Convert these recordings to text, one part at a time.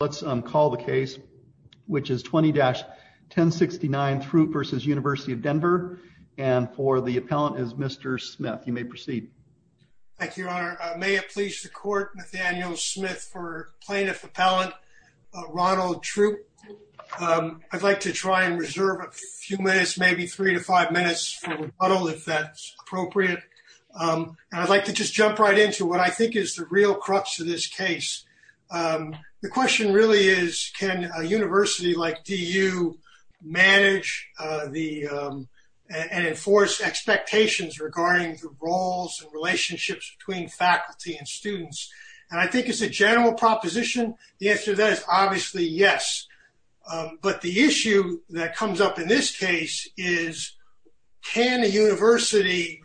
Let's call the case, which is 20-1069 Throupe v. University of Denver, and for the appellant is Mr. Smith. You may proceed. Thank you, Your Honor. May it please the Court, Nathaniel Smith for Plaintiff Appellant Ronald Throupe. I'd like to try and reserve a few minutes, maybe three to five minutes for rebuttal if that's appropriate, and I'd like to just jump right into what I think is the real crux of this case. The question really is, can a university like DU manage and enforce expectations regarding the roles and relationships between faculty and students? And I think it's a general proposition. The answer to that is obviously yes. But the issue that comes up in this case is, can a university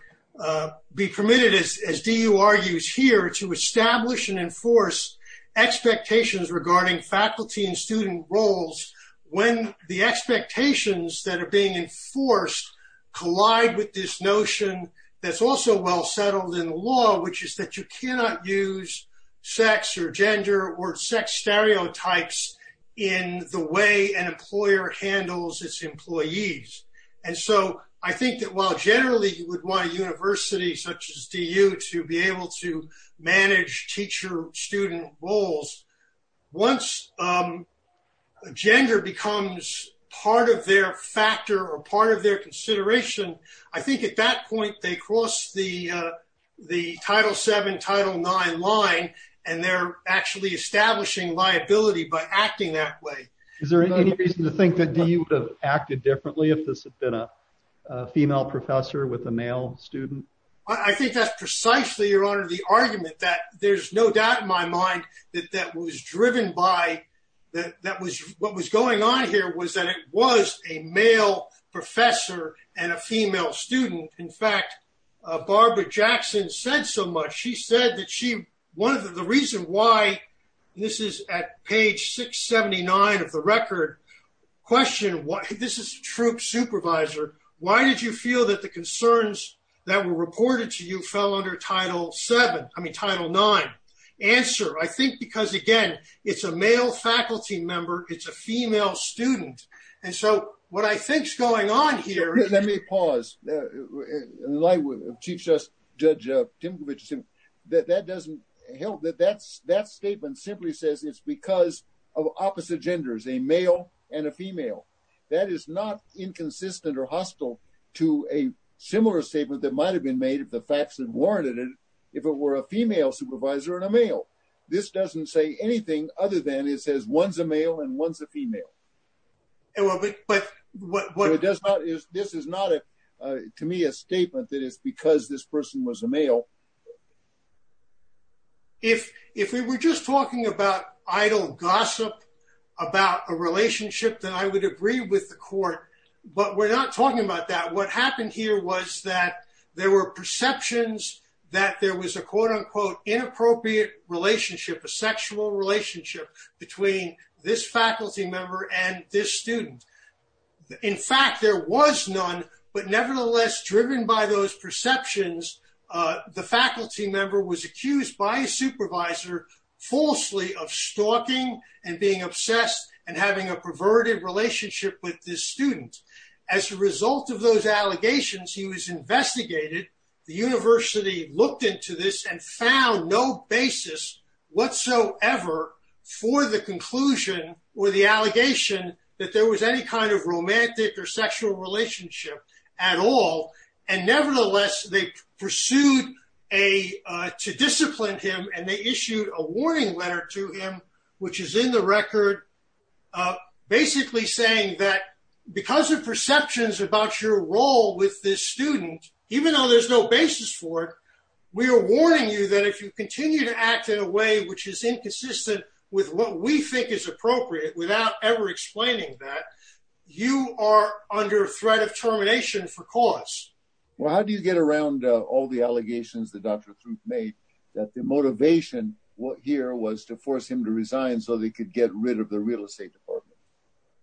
be permitted, as DU argues here, to establish and enforce expectations regarding faculty and student roles when the expectations that are being enforced collide with this notion that's also well-settled in the law, which is that you cannot use sex or gender or sex stereotypes in the way an employer handles its employees. And so I think that while generally you would want a university such as DU to be able to manage teacher-student roles, once gender becomes part of their factor or part of their consideration, I think at that point they cross the Title VII, Title IX line, and they're actually establishing liability by acting that way. Is there any reason to think that DU would have acted differently if this had been a female professor with a male student? I think that's precisely, Your Honor, the argument that there's no doubt in my mind that what was going on here was that it was a male professor and a female student. In fact, Barbara Jackson said so much. She said that the reason why—this is at page 679 of the record—question, this is a troop supervisor, why did you feel that the concerns that were reported to you fell under Title VII, I mean, Title IX? Answer, I think because, again, it's a male faculty member, it's a female student. And so what I think's going on here— Let me pause. Chief Justice Judge Timkovich, that doesn't help, that statement simply says it's because of opposite genders, a male and a female. That is not inconsistent or hostile to a similar statement that might have been made if the facts had warranted it, if it were a female supervisor and a male. This doesn't say anything other than it says one's a male and one's a female. This is not, to me, a statement that it's because this person was a male. If we were just talking about idle gossip about a relationship, then I would agree with the court, but we're not talking about that. What happened here was that there were perceptions that there was a quote-unquote inappropriate relationship, a sexual relationship, between this faculty member and this student. In fact, there was none, but nevertheless, driven by those perceptions, the faculty member was accused by a supervisor falsely of stalking and being obsessed and having a perverted relationship with this student. As a result of those allegations, he was investigated. The university looked into this and found no basis whatsoever for the conclusion or the allegation that there was any kind of romantic or sexual relationship at all. Nevertheless, they pursued to discipline him, and they issued a warning letter to him, which is in the record, basically saying that because of perceptions about your role with this student, even though there's no basis for it, we are warning you that if you continue to act in a way which is inconsistent with what we think is appropriate, without ever explaining that, you are under threat of termination for cause. Well, how do you get around all the allegations that Dr. Throop made that the motivation here was to force him to resign so they could get rid of the real estate department?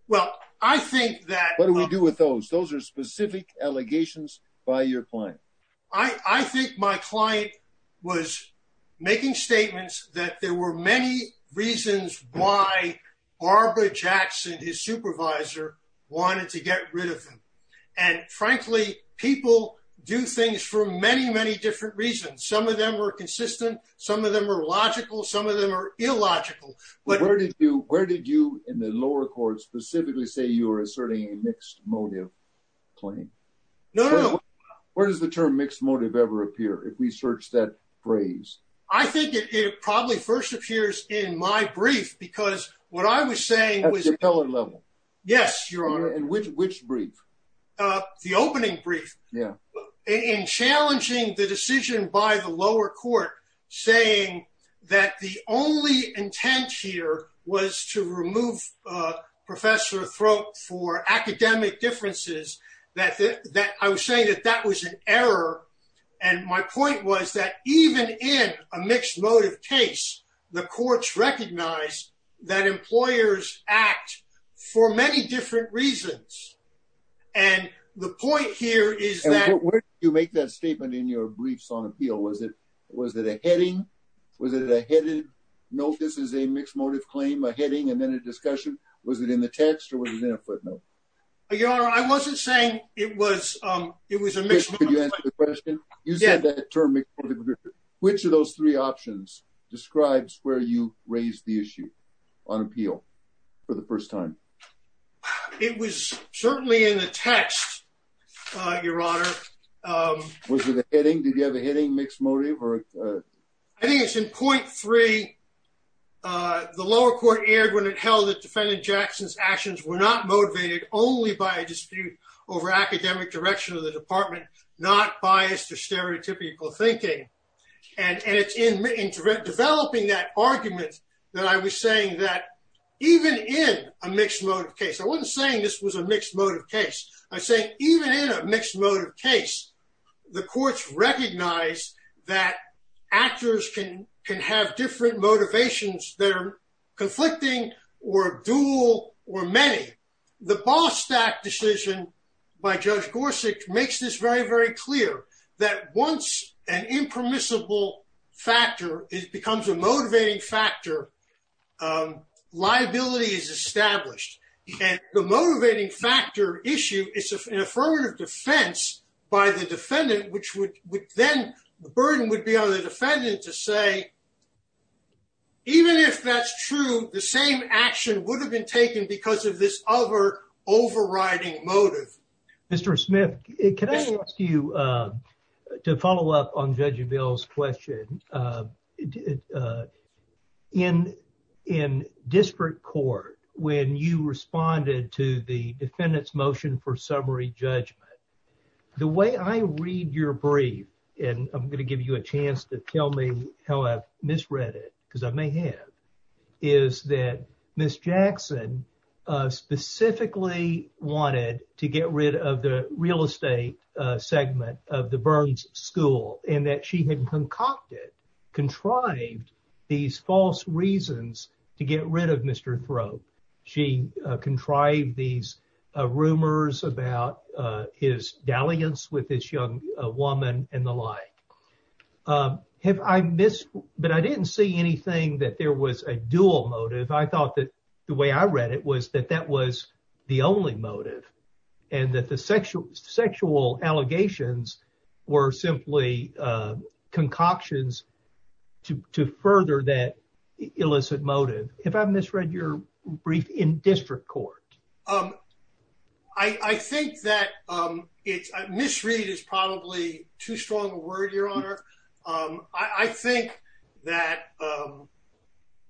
Well, I think that- What do we do with those? Those are specific allegations by your client. I think my client was making statements that there were many reasons why Barbara Jackson, his supervisor, wanted to get rid of him. And frankly, people do things for many, many different reasons. Some of them are consistent. Some of them are logical. Some of them are illogical. But where did you, in the lower court, specifically say you were asserting a mixed motive claim? No, no. Where does the term mixed motive ever appear, if we search that phrase? I think it probably first appears in my brief, because what I was saying was- At the appellate level? Yes, Your Honor. And which brief? The opening brief. Yeah. In challenging the decision by the lower court, saying that the only intent here was to remove Professor Throop for academic differences, I was saying that that was an error. And my point was that even in a mixed motive case, the courts recognized that employers act for many different reasons. And the point here is that- And where did you make that statement in your briefs on appeal? Was it a heading? Was it a headed? No, this is a mixed motive claim. A heading and then a discussion. Was it in the text or was it in a footnote? Your Honor, I wasn't saying it was a mixed motive- Can you answer the question? You said that term mixed motive. Which of those three options describes where you raised the issue on appeal for the first time? It was certainly in the text, Your Honor. Was it a heading? Did you have a heading mixed motive or- I think it's in point three. The lower court aired when it held that defendant Jackson's actions were not motivated only by a dispute over academic direction of the department, not biased or stereotypical thinking. And it's in developing that argument that I was saying that even in a mixed motive case- I wasn't saying this was a mixed motive case. I was saying even in a mixed motive case, the courts recognize that actors can have different motivations that are conflicting or dual or many. The Bostack decision by Judge Gorsuch makes this very, very clear. That once an impermissible factor becomes a motivating factor, liability is established. And the motivating factor issue is an affirmative defense by the defendant, which would then- the burden would be on the defendant to say, even if that's true, the same action would have been taken because of this other overriding motive. Mr. Smith, can I ask you to follow up on Judge Avell's question? In district court, when you responded to the defendant's motion for summary judgment, the way I read your brief, and I'm going to give you a chance to tell me how I've misread it, I may have, is that Ms. Jackson specifically wanted to get rid of the real estate segment of the Burns School and that she had concocted, contrived, these false reasons to get rid of Mr. Thrope. She contrived these rumors about his dalliance with this young woman and the like. But I didn't see anything that there was a dual motive. I thought that the way I read it was that that was the only motive, and that the sexual allegations were simply concoctions to further that illicit motive. Have I misread your brief in district court? Um, I think that misread is probably too strong a word, Your Honor. I think that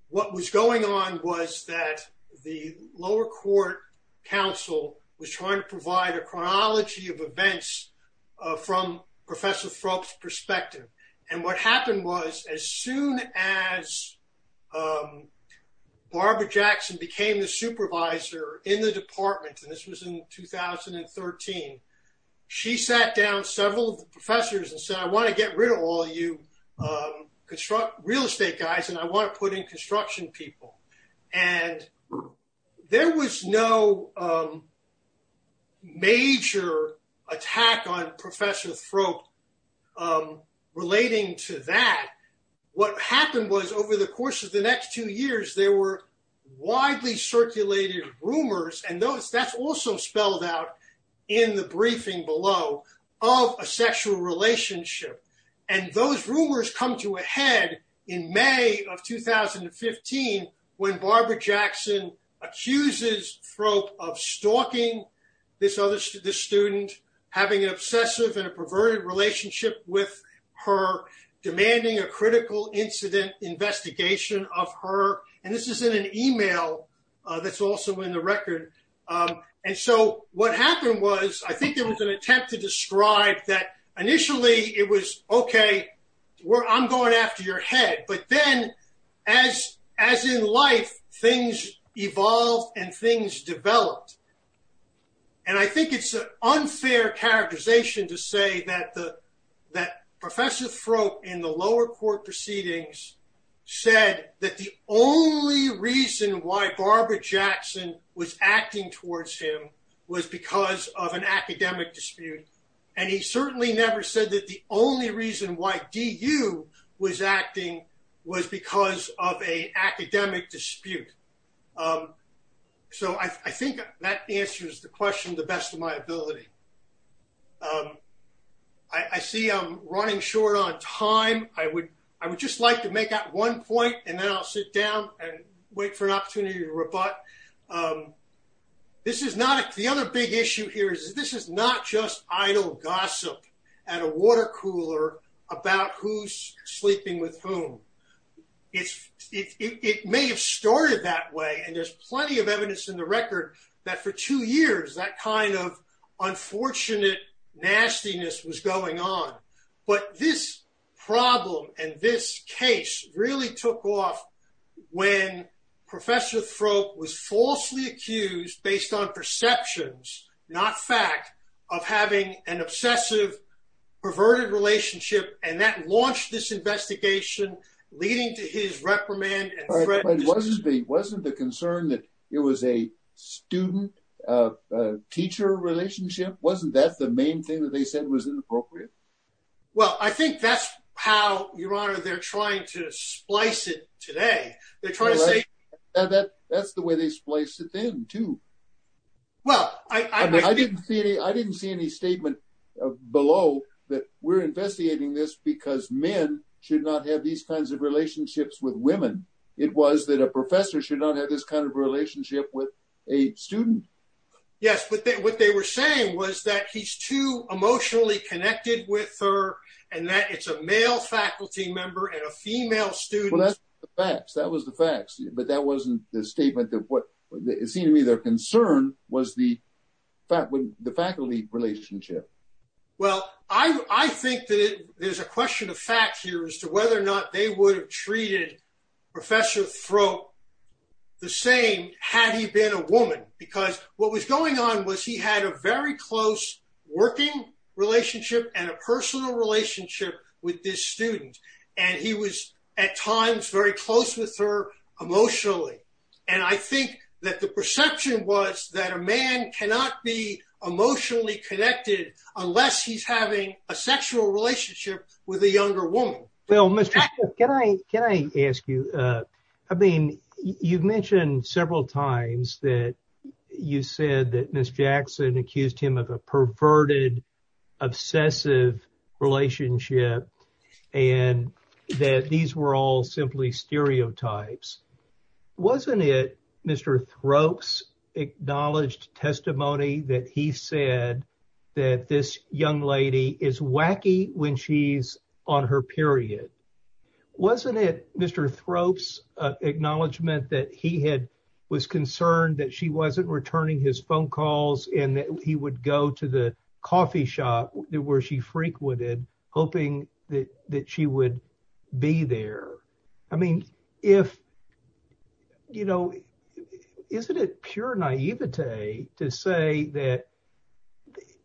what was going on was that the lower court counsel was trying to provide a chronology of events from Professor Thrope's perspective. And what happened was, as soon as Barbara Jackson became the supervisor in the department, and this was in 2013, she sat down several of the professors and said, I want to get rid of all you real estate guys, and I want to put in construction people. And there was no major attack on Professor Thrope relating to that. What happened was, over the course of the next two years, there were widely circulated rumors, and that's also spelled out in the briefing below, of a sexual relationship. And those rumors come to a head in May of 2015, when Barbara Jackson accuses Thrope of stalking this other student, having an obsessive and a perverted relationship with her, demanding a critical incident investigation of her. And this is in an email that's also in the record. And so what happened was, I think there was an attempt to describe that initially, it was, okay, I'm going after your head. But then, as in life, things evolved and things developed. And I think it's an unfair characterization to say that Professor Thrope, in the lower court proceedings, said that the only reason why Barbara Jackson was acting towards him was because of an academic dispute. And he certainly never said that the only reason why DU was acting was because of a academic dispute. So I think that answers the question to the best of my ability. I see I'm running short on time. I would just like to make out one point, and then I'll sit down and wait for an opportunity to rebut. The other big issue here is, this is not just idle gossip at a water cooler about who's sleeping with whom. It may have started that way. And there's plenty of evidence in the record that for two years, that kind of unfortunate nastiness was going on. But this problem and this case really took off when Professor Thrope was falsely accused based on perceptions, not fact, of having an obsessive, perverted relationship. And that launched this investigation, leading to his reprimand and threat. But wasn't the concern that it was a student-teacher relationship? Wasn't that the main thing that they said was inappropriate? Well, I think that's how, Your Honor, they're trying to splice it today. They're trying to say that that's the way they spliced it then, too. Well, I didn't see any statement below that we're investigating this because men should not have these kinds of relationships with women. It was that a professor should not have this kind of relationship with a student. Yes, but what they were saying was that he's too emotionally connected with her and that it's a male faculty member and a female student. Well, that's the facts. That was the facts. But that wasn't the statement that what it seemed to me their concern was the faculty relationship. Well, I think that there's a question of facts here as to whether or not they would have treated Professor Thrope the same had he been a woman. Because what was going on was he had a very close working relationship and a personal relationship with this student. And he was at times very close with her emotionally. And I think that the perception was that a man cannot be emotionally connected unless he's having a sexual relationship with a younger woman. Well, can I ask you, I mean, you've mentioned several times that you said that Miss Jackson accused him of a perverted, obsessive relationship and that these were all simply stereotypes. Wasn't it Mr. Thrope's acknowledged testimony that he said that this young lady is wacky when she's on her period? Wasn't it Mr. Thrope's acknowledgement that he had was concerned that she wasn't returning his phone calls and that he would go to the coffee shop where she frequented, hoping that she would be there? I mean, if you know, isn't it pure naivete to say that?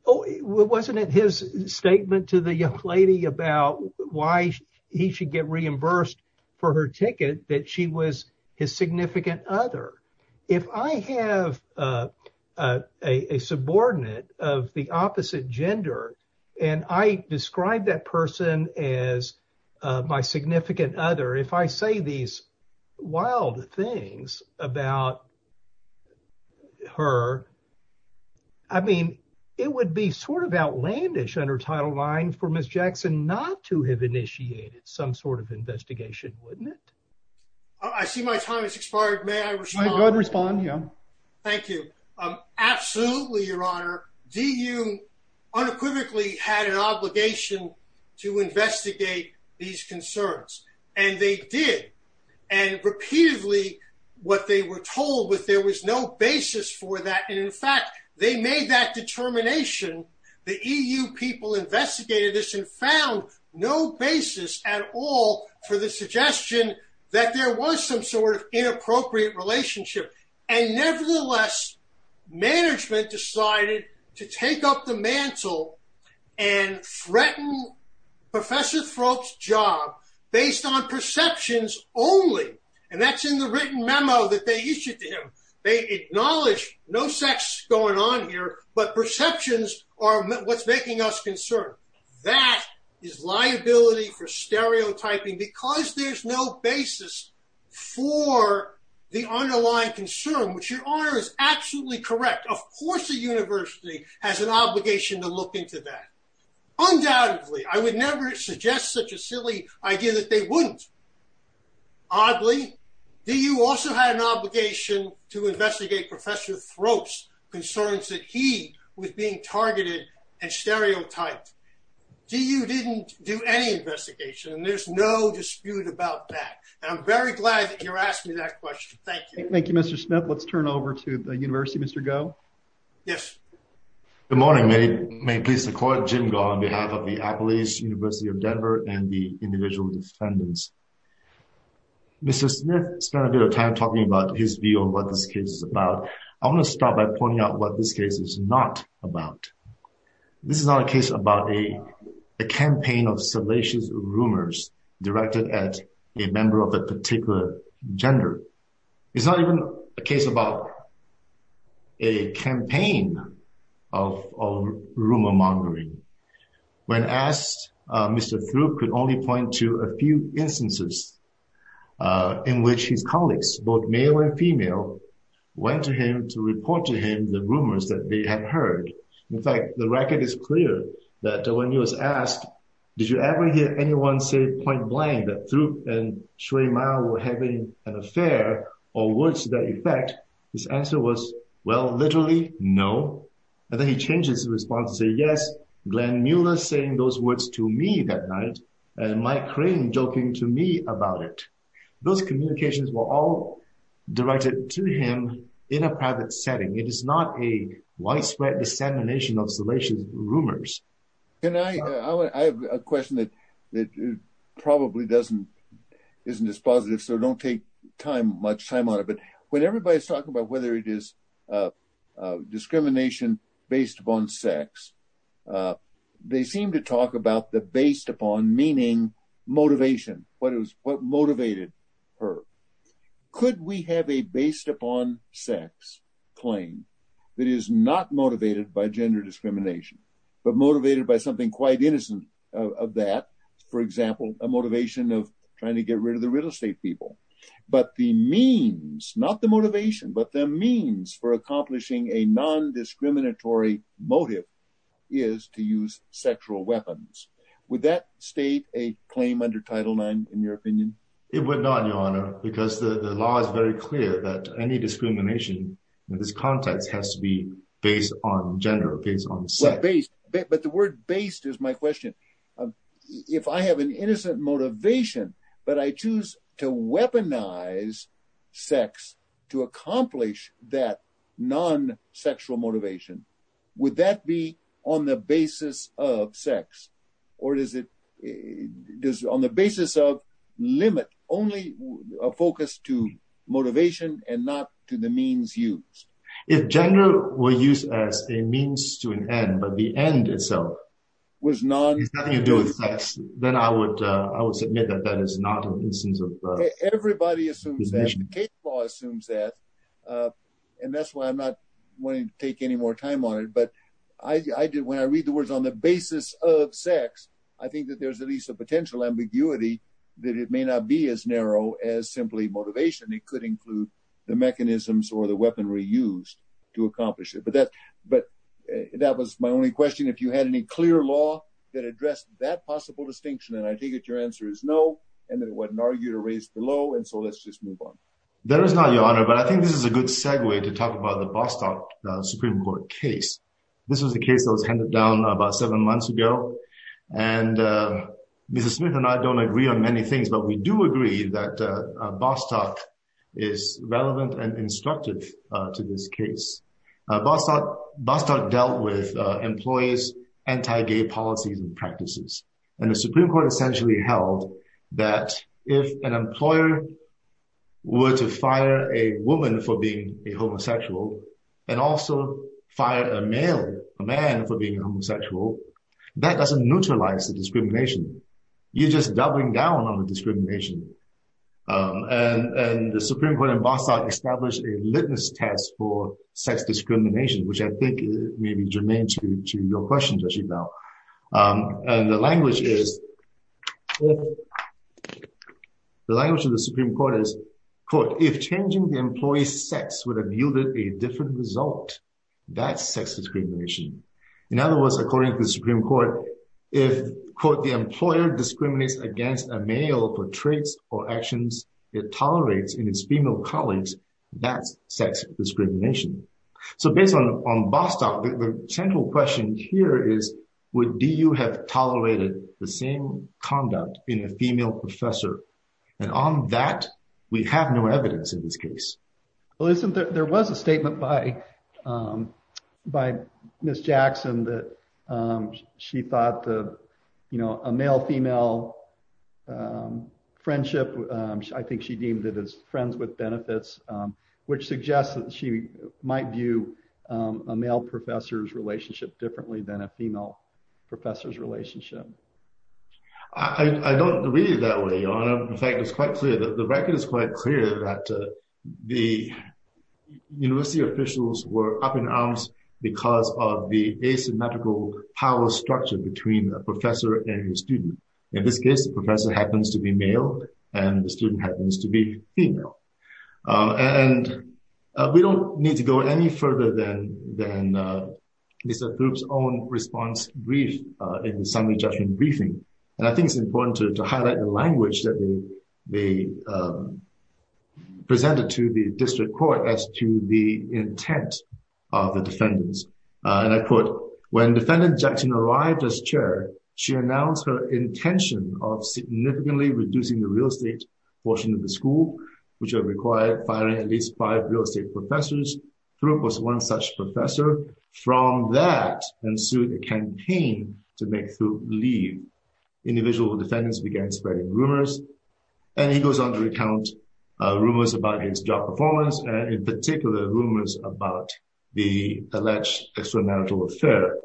Wasn't it his statement to the young lady about why he should get reimbursed for her ticket that she was his significant other? If I have a subordinate of the opposite gender and I describe that person as my significant other, if I say these wild things about her, I mean, it would be sort of outlandish under title IX for Miss Jackson not to have initiated some sort of investigation, wouldn't it? I see my time has expired. May I respond? Go ahead and respond, yeah. Thank you. Absolutely, Your Honor. DU unequivocally had an obligation to investigate these concerns, and they did. And repeatedly, what they were told was there was no basis for that. And in fact, they made that determination, the EU people investigated this and found no basis at all for the suggestion that there was some sort of inappropriate relationship. And nevertheless, management decided to take up the mantle and threaten Professor Thrope's job based on perceptions only. And that's in the written memo that they issued to him. They acknowledge no sex going on here, but perceptions are what's making us concerned. That is liability for stereotyping because there's no basis for the underlying concern, which Your Honor is absolutely correct. Of course, the university has an obligation to look into that. Undoubtedly, I would never suggest such a silly idea that they wouldn't. Oddly, DU also had an obligation to investigate Professor Thrope's concerns that he was being DU didn't do any investigation. And there's no dispute about that. I'm very glad that you're asking that question. Thank you. Thank you, Mr. Smith. Let's turn over to the university. Mr. Goh. Yes. Good morning. May it please the court. Jim Goh on behalf of the Appalachian University of Denver and the individual defendants. Mr. Smith spent a bit of time talking about his view of what this case is about. I want to start by pointing out what this case is not about. This is not a case about a campaign of salacious rumors directed at a member of a particular gender. It's not even a case about a campaign of rumor mongering. When asked, Mr. Thrope could only point to a few instances in which his colleagues, both the record is clear that when he was asked, did you ever hear anyone say point blank that Thrope and Shui Mao were having an affair or words to that effect? His answer was, well, literally, no. And then he changes his response to say, yes, Glenn Mueller saying those words to me that night and Mike Crane joking to me about it. Those communications were all directed to him in a private setting. It is not a widespread dissemination of salacious rumors. And I have a question that probably isn't as positive, so don't take much time on it. But when everybody is talking about whether it is discrimination based upon sex, they seem to talk about the based upon meaning motivation, what motivated her. Could we have a based upon sex claim that is not motivated by gender discrimination, but motivated by something quite innocent of that, for example, a motivation of trying to get rid of the real estate people? But the means, not the motivation, but the means for accomplishing a non-discriminatory motive is to use sexual weapons. Would that state a claim under Title IX, in your opinion? It would not, Your Honor, because the law is very clear that any discrimination in this context has to be based on gender, based on sex. But the word based is my question. If I have an innocent motivation, but I choose to weaponize sex to accomplish that non-sexual motivation, would that be on the basis of sex? Or is it on the basis of limit, only a focus to motivation and not to the means used? If gender were used as a means to an end, but the end itself was non-sex, then I would submit that that is not an instance of discrimination. Everybody assumes that, the case law assumes that, and that's why I'm not wanting to take any more time on it. But when I read the words on the basis of sex, I think that there's at least a potential ambiguity that it may not be as narrow as simply motivation. It could include the mechanisms or the weaponry used to accomplish it. But that was my only question. If you had any clear law that addressed that possible distinction, and I take it your answer is no, and that it wasn't argued or raised below, and so let's just move on. That is not your honor, but I think this is a good segue to talk about the Bostock Supreme Court case. This was the case that was handed down about seven months ago. And Mrs. Smith and I don't agree on many things, but we do agree that Bostock is relevant and instructive to this case. Bostock dealt with employees' anti-gay policies and practices. And the Supreme Court essentially held that if an employer were to fire a woman for being a homosexual and also fire a male, a man for being a homosexual, that doesn't neutralize the discrimination. You're just doubling down on the discrimination. And the Supreme Court in Bostock established a litmus test for sex discrimination, which I think may be germane to your question, Judge Ebel. And the language of the Supreme Court is, quote, if changing the employee's sex would have yielded a different result, that's sex discrimination. In other words, according to the Supreme Court, if, quote, the employer discriminates against a male for traits or actions it tolerates in its female colleagues, that's sex discrimination. So based on Bostock, the central question here is, do you have tolerated the same conduct in a female professor? And on that, we have no evidence in this case. Well, there was a statement by Ms. Jackson that she thought a male-female friendship, I think she deemed it as friends with benefits, which suggests that she might view a male professor's relationship differently than a female professor's relationship. I don't read it that way, Your Honor. In fact, it's quite clear. The record is quite clear that the university officials were up in arms because of the asymmetrical power structure between a professor and a student. In this case, the professor happens to be male and the student happens to be female. And we don't need to go any further than Lisa Throop's own response brief in the Assembly Judgment Briefing. And I think it's important to highlight the language that they presented to the District Court as to the intent of the defendants. And I quote, When defendant Jackson arrived as chair, she announced her intention of significantly reducing the real estate portion of the school, which would require firing at least five real estate professors. Throop was one such professor. From that ensued a campaign to make Throop leave. Individual defendants began spreading rumors. And he goes on to recount rumors about his job performance, and in particular rumors about the alleged extramarital affair.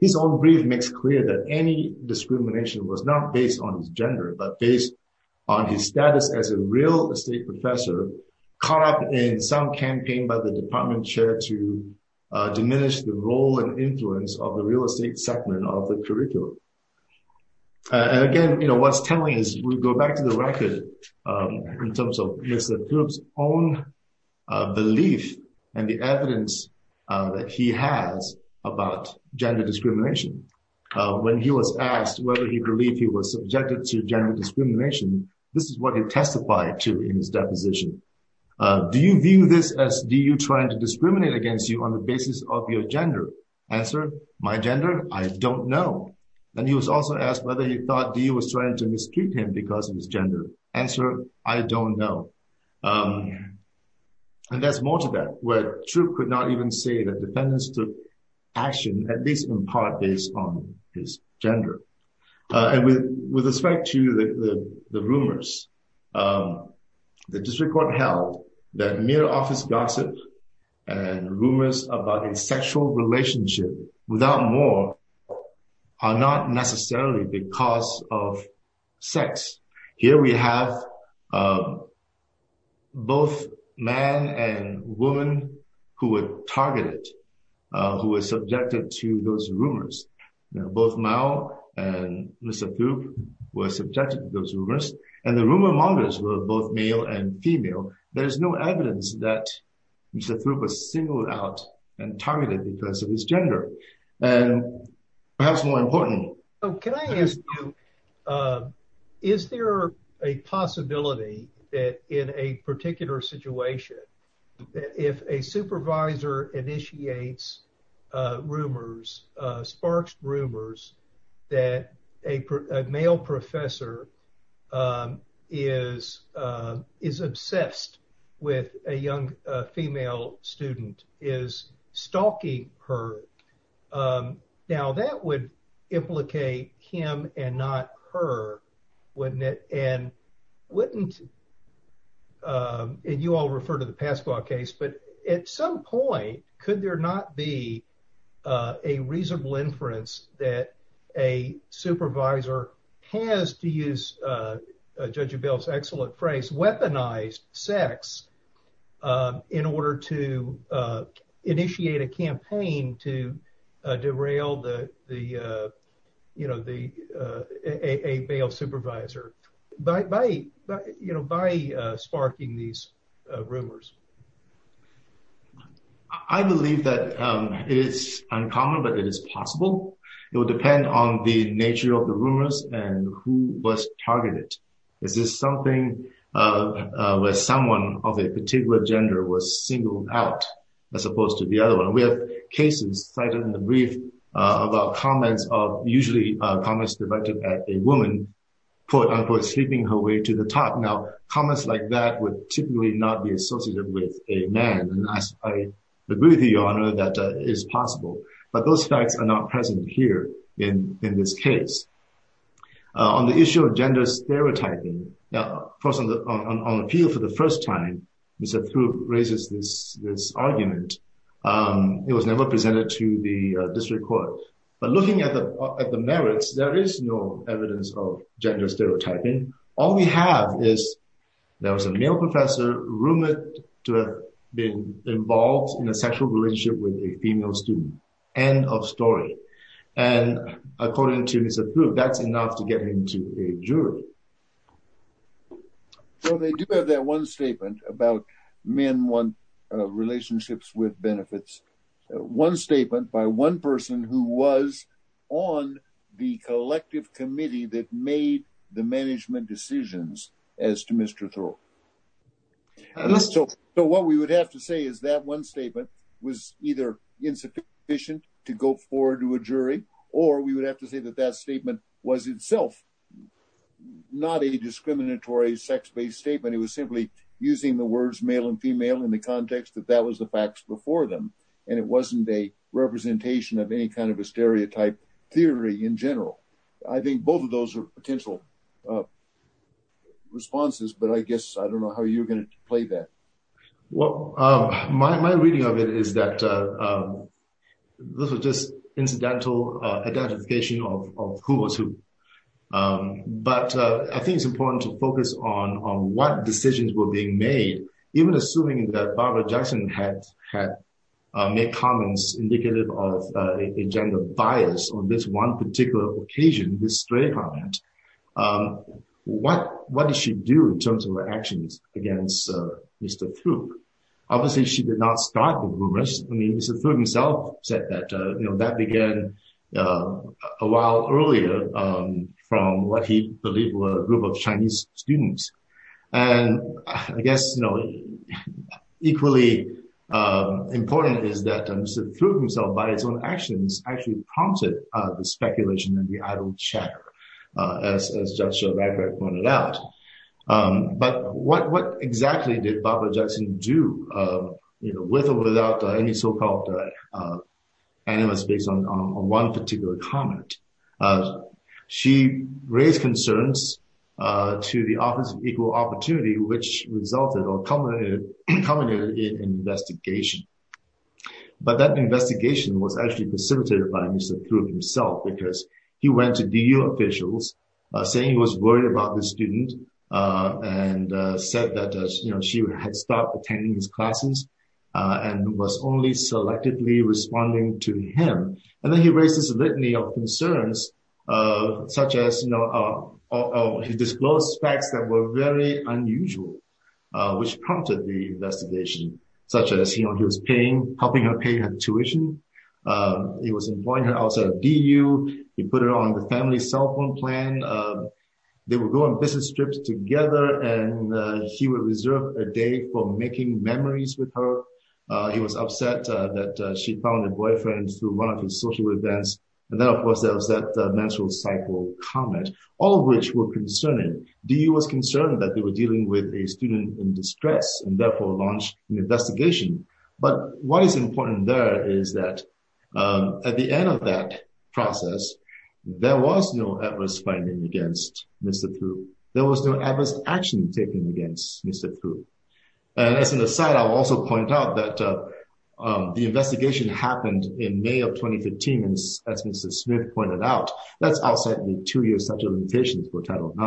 His own brief makes clear that any discrimination was not based on his gender, but based on his status as a real estate professor caught up in some campaign by the department chair to diminish the role and influence of the real estate segment of the curriculum. And again, you know, what's telling is we go back to the record in terms of Lisa Throop's own belief and the evidence that he has about gender discrimination. When he was asked whether he believed he was subjected to gender discrimination, this is what he testified to in his deposition. Do you view this as DU trying to discriminate against you on the basis of your gender? Answer, my gender? I don't know. And he was also asked whether he thought DU was trying to mistreat him because of his gender. Answer, I don't know. And there's more to that, where Throop could not even say that defendants took action, at least in part, based on his gender. And with respect to the rumors, the district court held that mere office gossip and rumors about a sexual relationship without more are not necessarily because of sex. Here we have both man and woman who were targeted, who were subjected to those rumors. Both Mao and Lisa Throop were subjected to those rumors, and the rumor mongers were both male and female. There's no evidence that Lisa Throop was singled out and targeted because of his gender. And perhaps more importantly. So can I ask you, is there a possibility that in a particular situation, that if a supervisor initiates rumors, sparks rumors, that a male professor is obsessed with a female student, is stalking her. Now that would implicate him and not her, wouldn't it? And wouldn't, and you all refer to the Pascua case, but at some point, could there not be a reasonable inference that a supervisor has, to use Judge Abell's excellent phrase, weaponized sex, in order to initiate a campaign to derail the, you know, a male supervisor by sparking these rumors? I believe that it is uncommon, but it is possible. It will depend on the nature of the rumors and who was targeted. Is this something where someone of a particular gender was singled out, as opposed to the other one? We have cases cited in the brief about comments of, usually comments directed at a woman, quote, unquote, sleeping her way to the top. Now, comments like that would typically not be associated with a man, and I agree with the honor that is possible. But those facts are not present here in this case. On the issue of gender stereotyping, now, of course, on appeal for the first time, Mr. Pru raises this argument. It was never presented to the district court. But looking at the merits, there is no evidence of gender stereotyping. All we have is there was a male professor rumored to have been involved in a sexual relationship with a female student. End of story. And according to his approval, that's enough to get him to a jury. So they do have that one statement about men want relationships with benefits. One statement by one person who was on the collective committee that made the management decisions as to Mr. Thoreau. So what we would have to say is that one statement was either insufficient to go forward to a jury, or we would have to say that that statement was itself not a discriminatory sex-based statement. It was simply using the words male and female in the context that that was the facts before them. And it wasn't a representation of any kind of a stereotype theory in general. I think both of those are potential responses, but I guess I don't know how you're going to play that. Well, my reading of it is that this was just incidental identification of who was who. But I think it's important to focus on what decisions were being made. Even assuming that Barbara Jackson had made comments indicative of a gender bias on this one particular occasion, this stray comment, what did she do in terms of her actions against Mr. Throop? Obviously, she did not start the rumors. I mean, Mr. Throop himself said that, you know, that began a while earlier from what he believed were a group of Chinese students. And I guess, you know, equally important is that Mr. Throop himself, by his own actions, actually prompted the speculation and the idle chatter, as Judge Joe Radcliffe pointed out. But what exactly did Barbara Jackson do, you know, with or without any so-called animus based on one particular comment? She raised concerns to the Office of Equal Opportunity, which resulted or culminated in an investigation. But that investigation was actually precipitated by Mr. Throop himself, because he went to the student and said that, you know, she had stopped attending his classes and was only selectively responding to him. And then he raised this litany of concerns, such as, you know, he disclosed facts that were very unusual, which prompted the investigation, such as, you know, he was paying, helping her pay her tuition. He was employing her outside of DU. He put her on the family cell phone plan. They would go on business trips together, and he would reserve a day for making memories with her. He was upset that she found a boyfriend through one of his social events. And then, of course, there was that menstrual cycle comment, all of which were concerning. DU was concerned that they were dealing with a student in distress and therefore launched an investigation. But what is important there is that at the end of that process, there was no adverse finding against Mr. Throop. There was no adverse action taken against Mr. Throop. And as an aside, I'll also point out that the investigation happened in May of 2015, as Mr. Smith pointed out. That's outside the two-year statute of limitations for Title IX.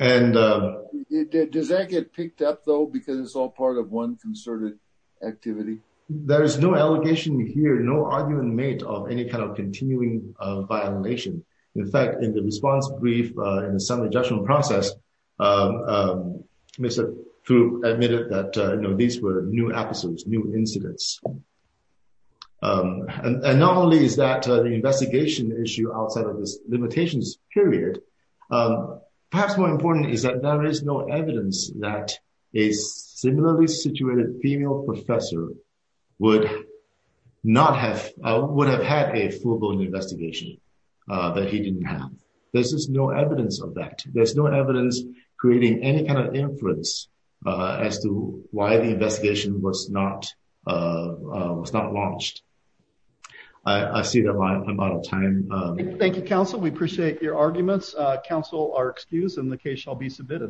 And does that get picked up, though, because it's all part of one concerted activity? There is no allegation here, no argument made of any kind of continuing violation. In fact, in the response brief in the summary judgment process, Mr. Throop admitted that these were new episodes, new incidents. And not only is that the investigation issue outside of this limitations period, perhaps more important is that there is no evidence that a similarly situated female professor would have had a full-blown investigation that he didn't have. There's just no evidence of that. There's no evidence creating any kind of inference as to why the investigation was not launched. I see that I'm out of time. Thank you, counsel. We appreciate your arguments. Counsel are excused and the case shall be submitted.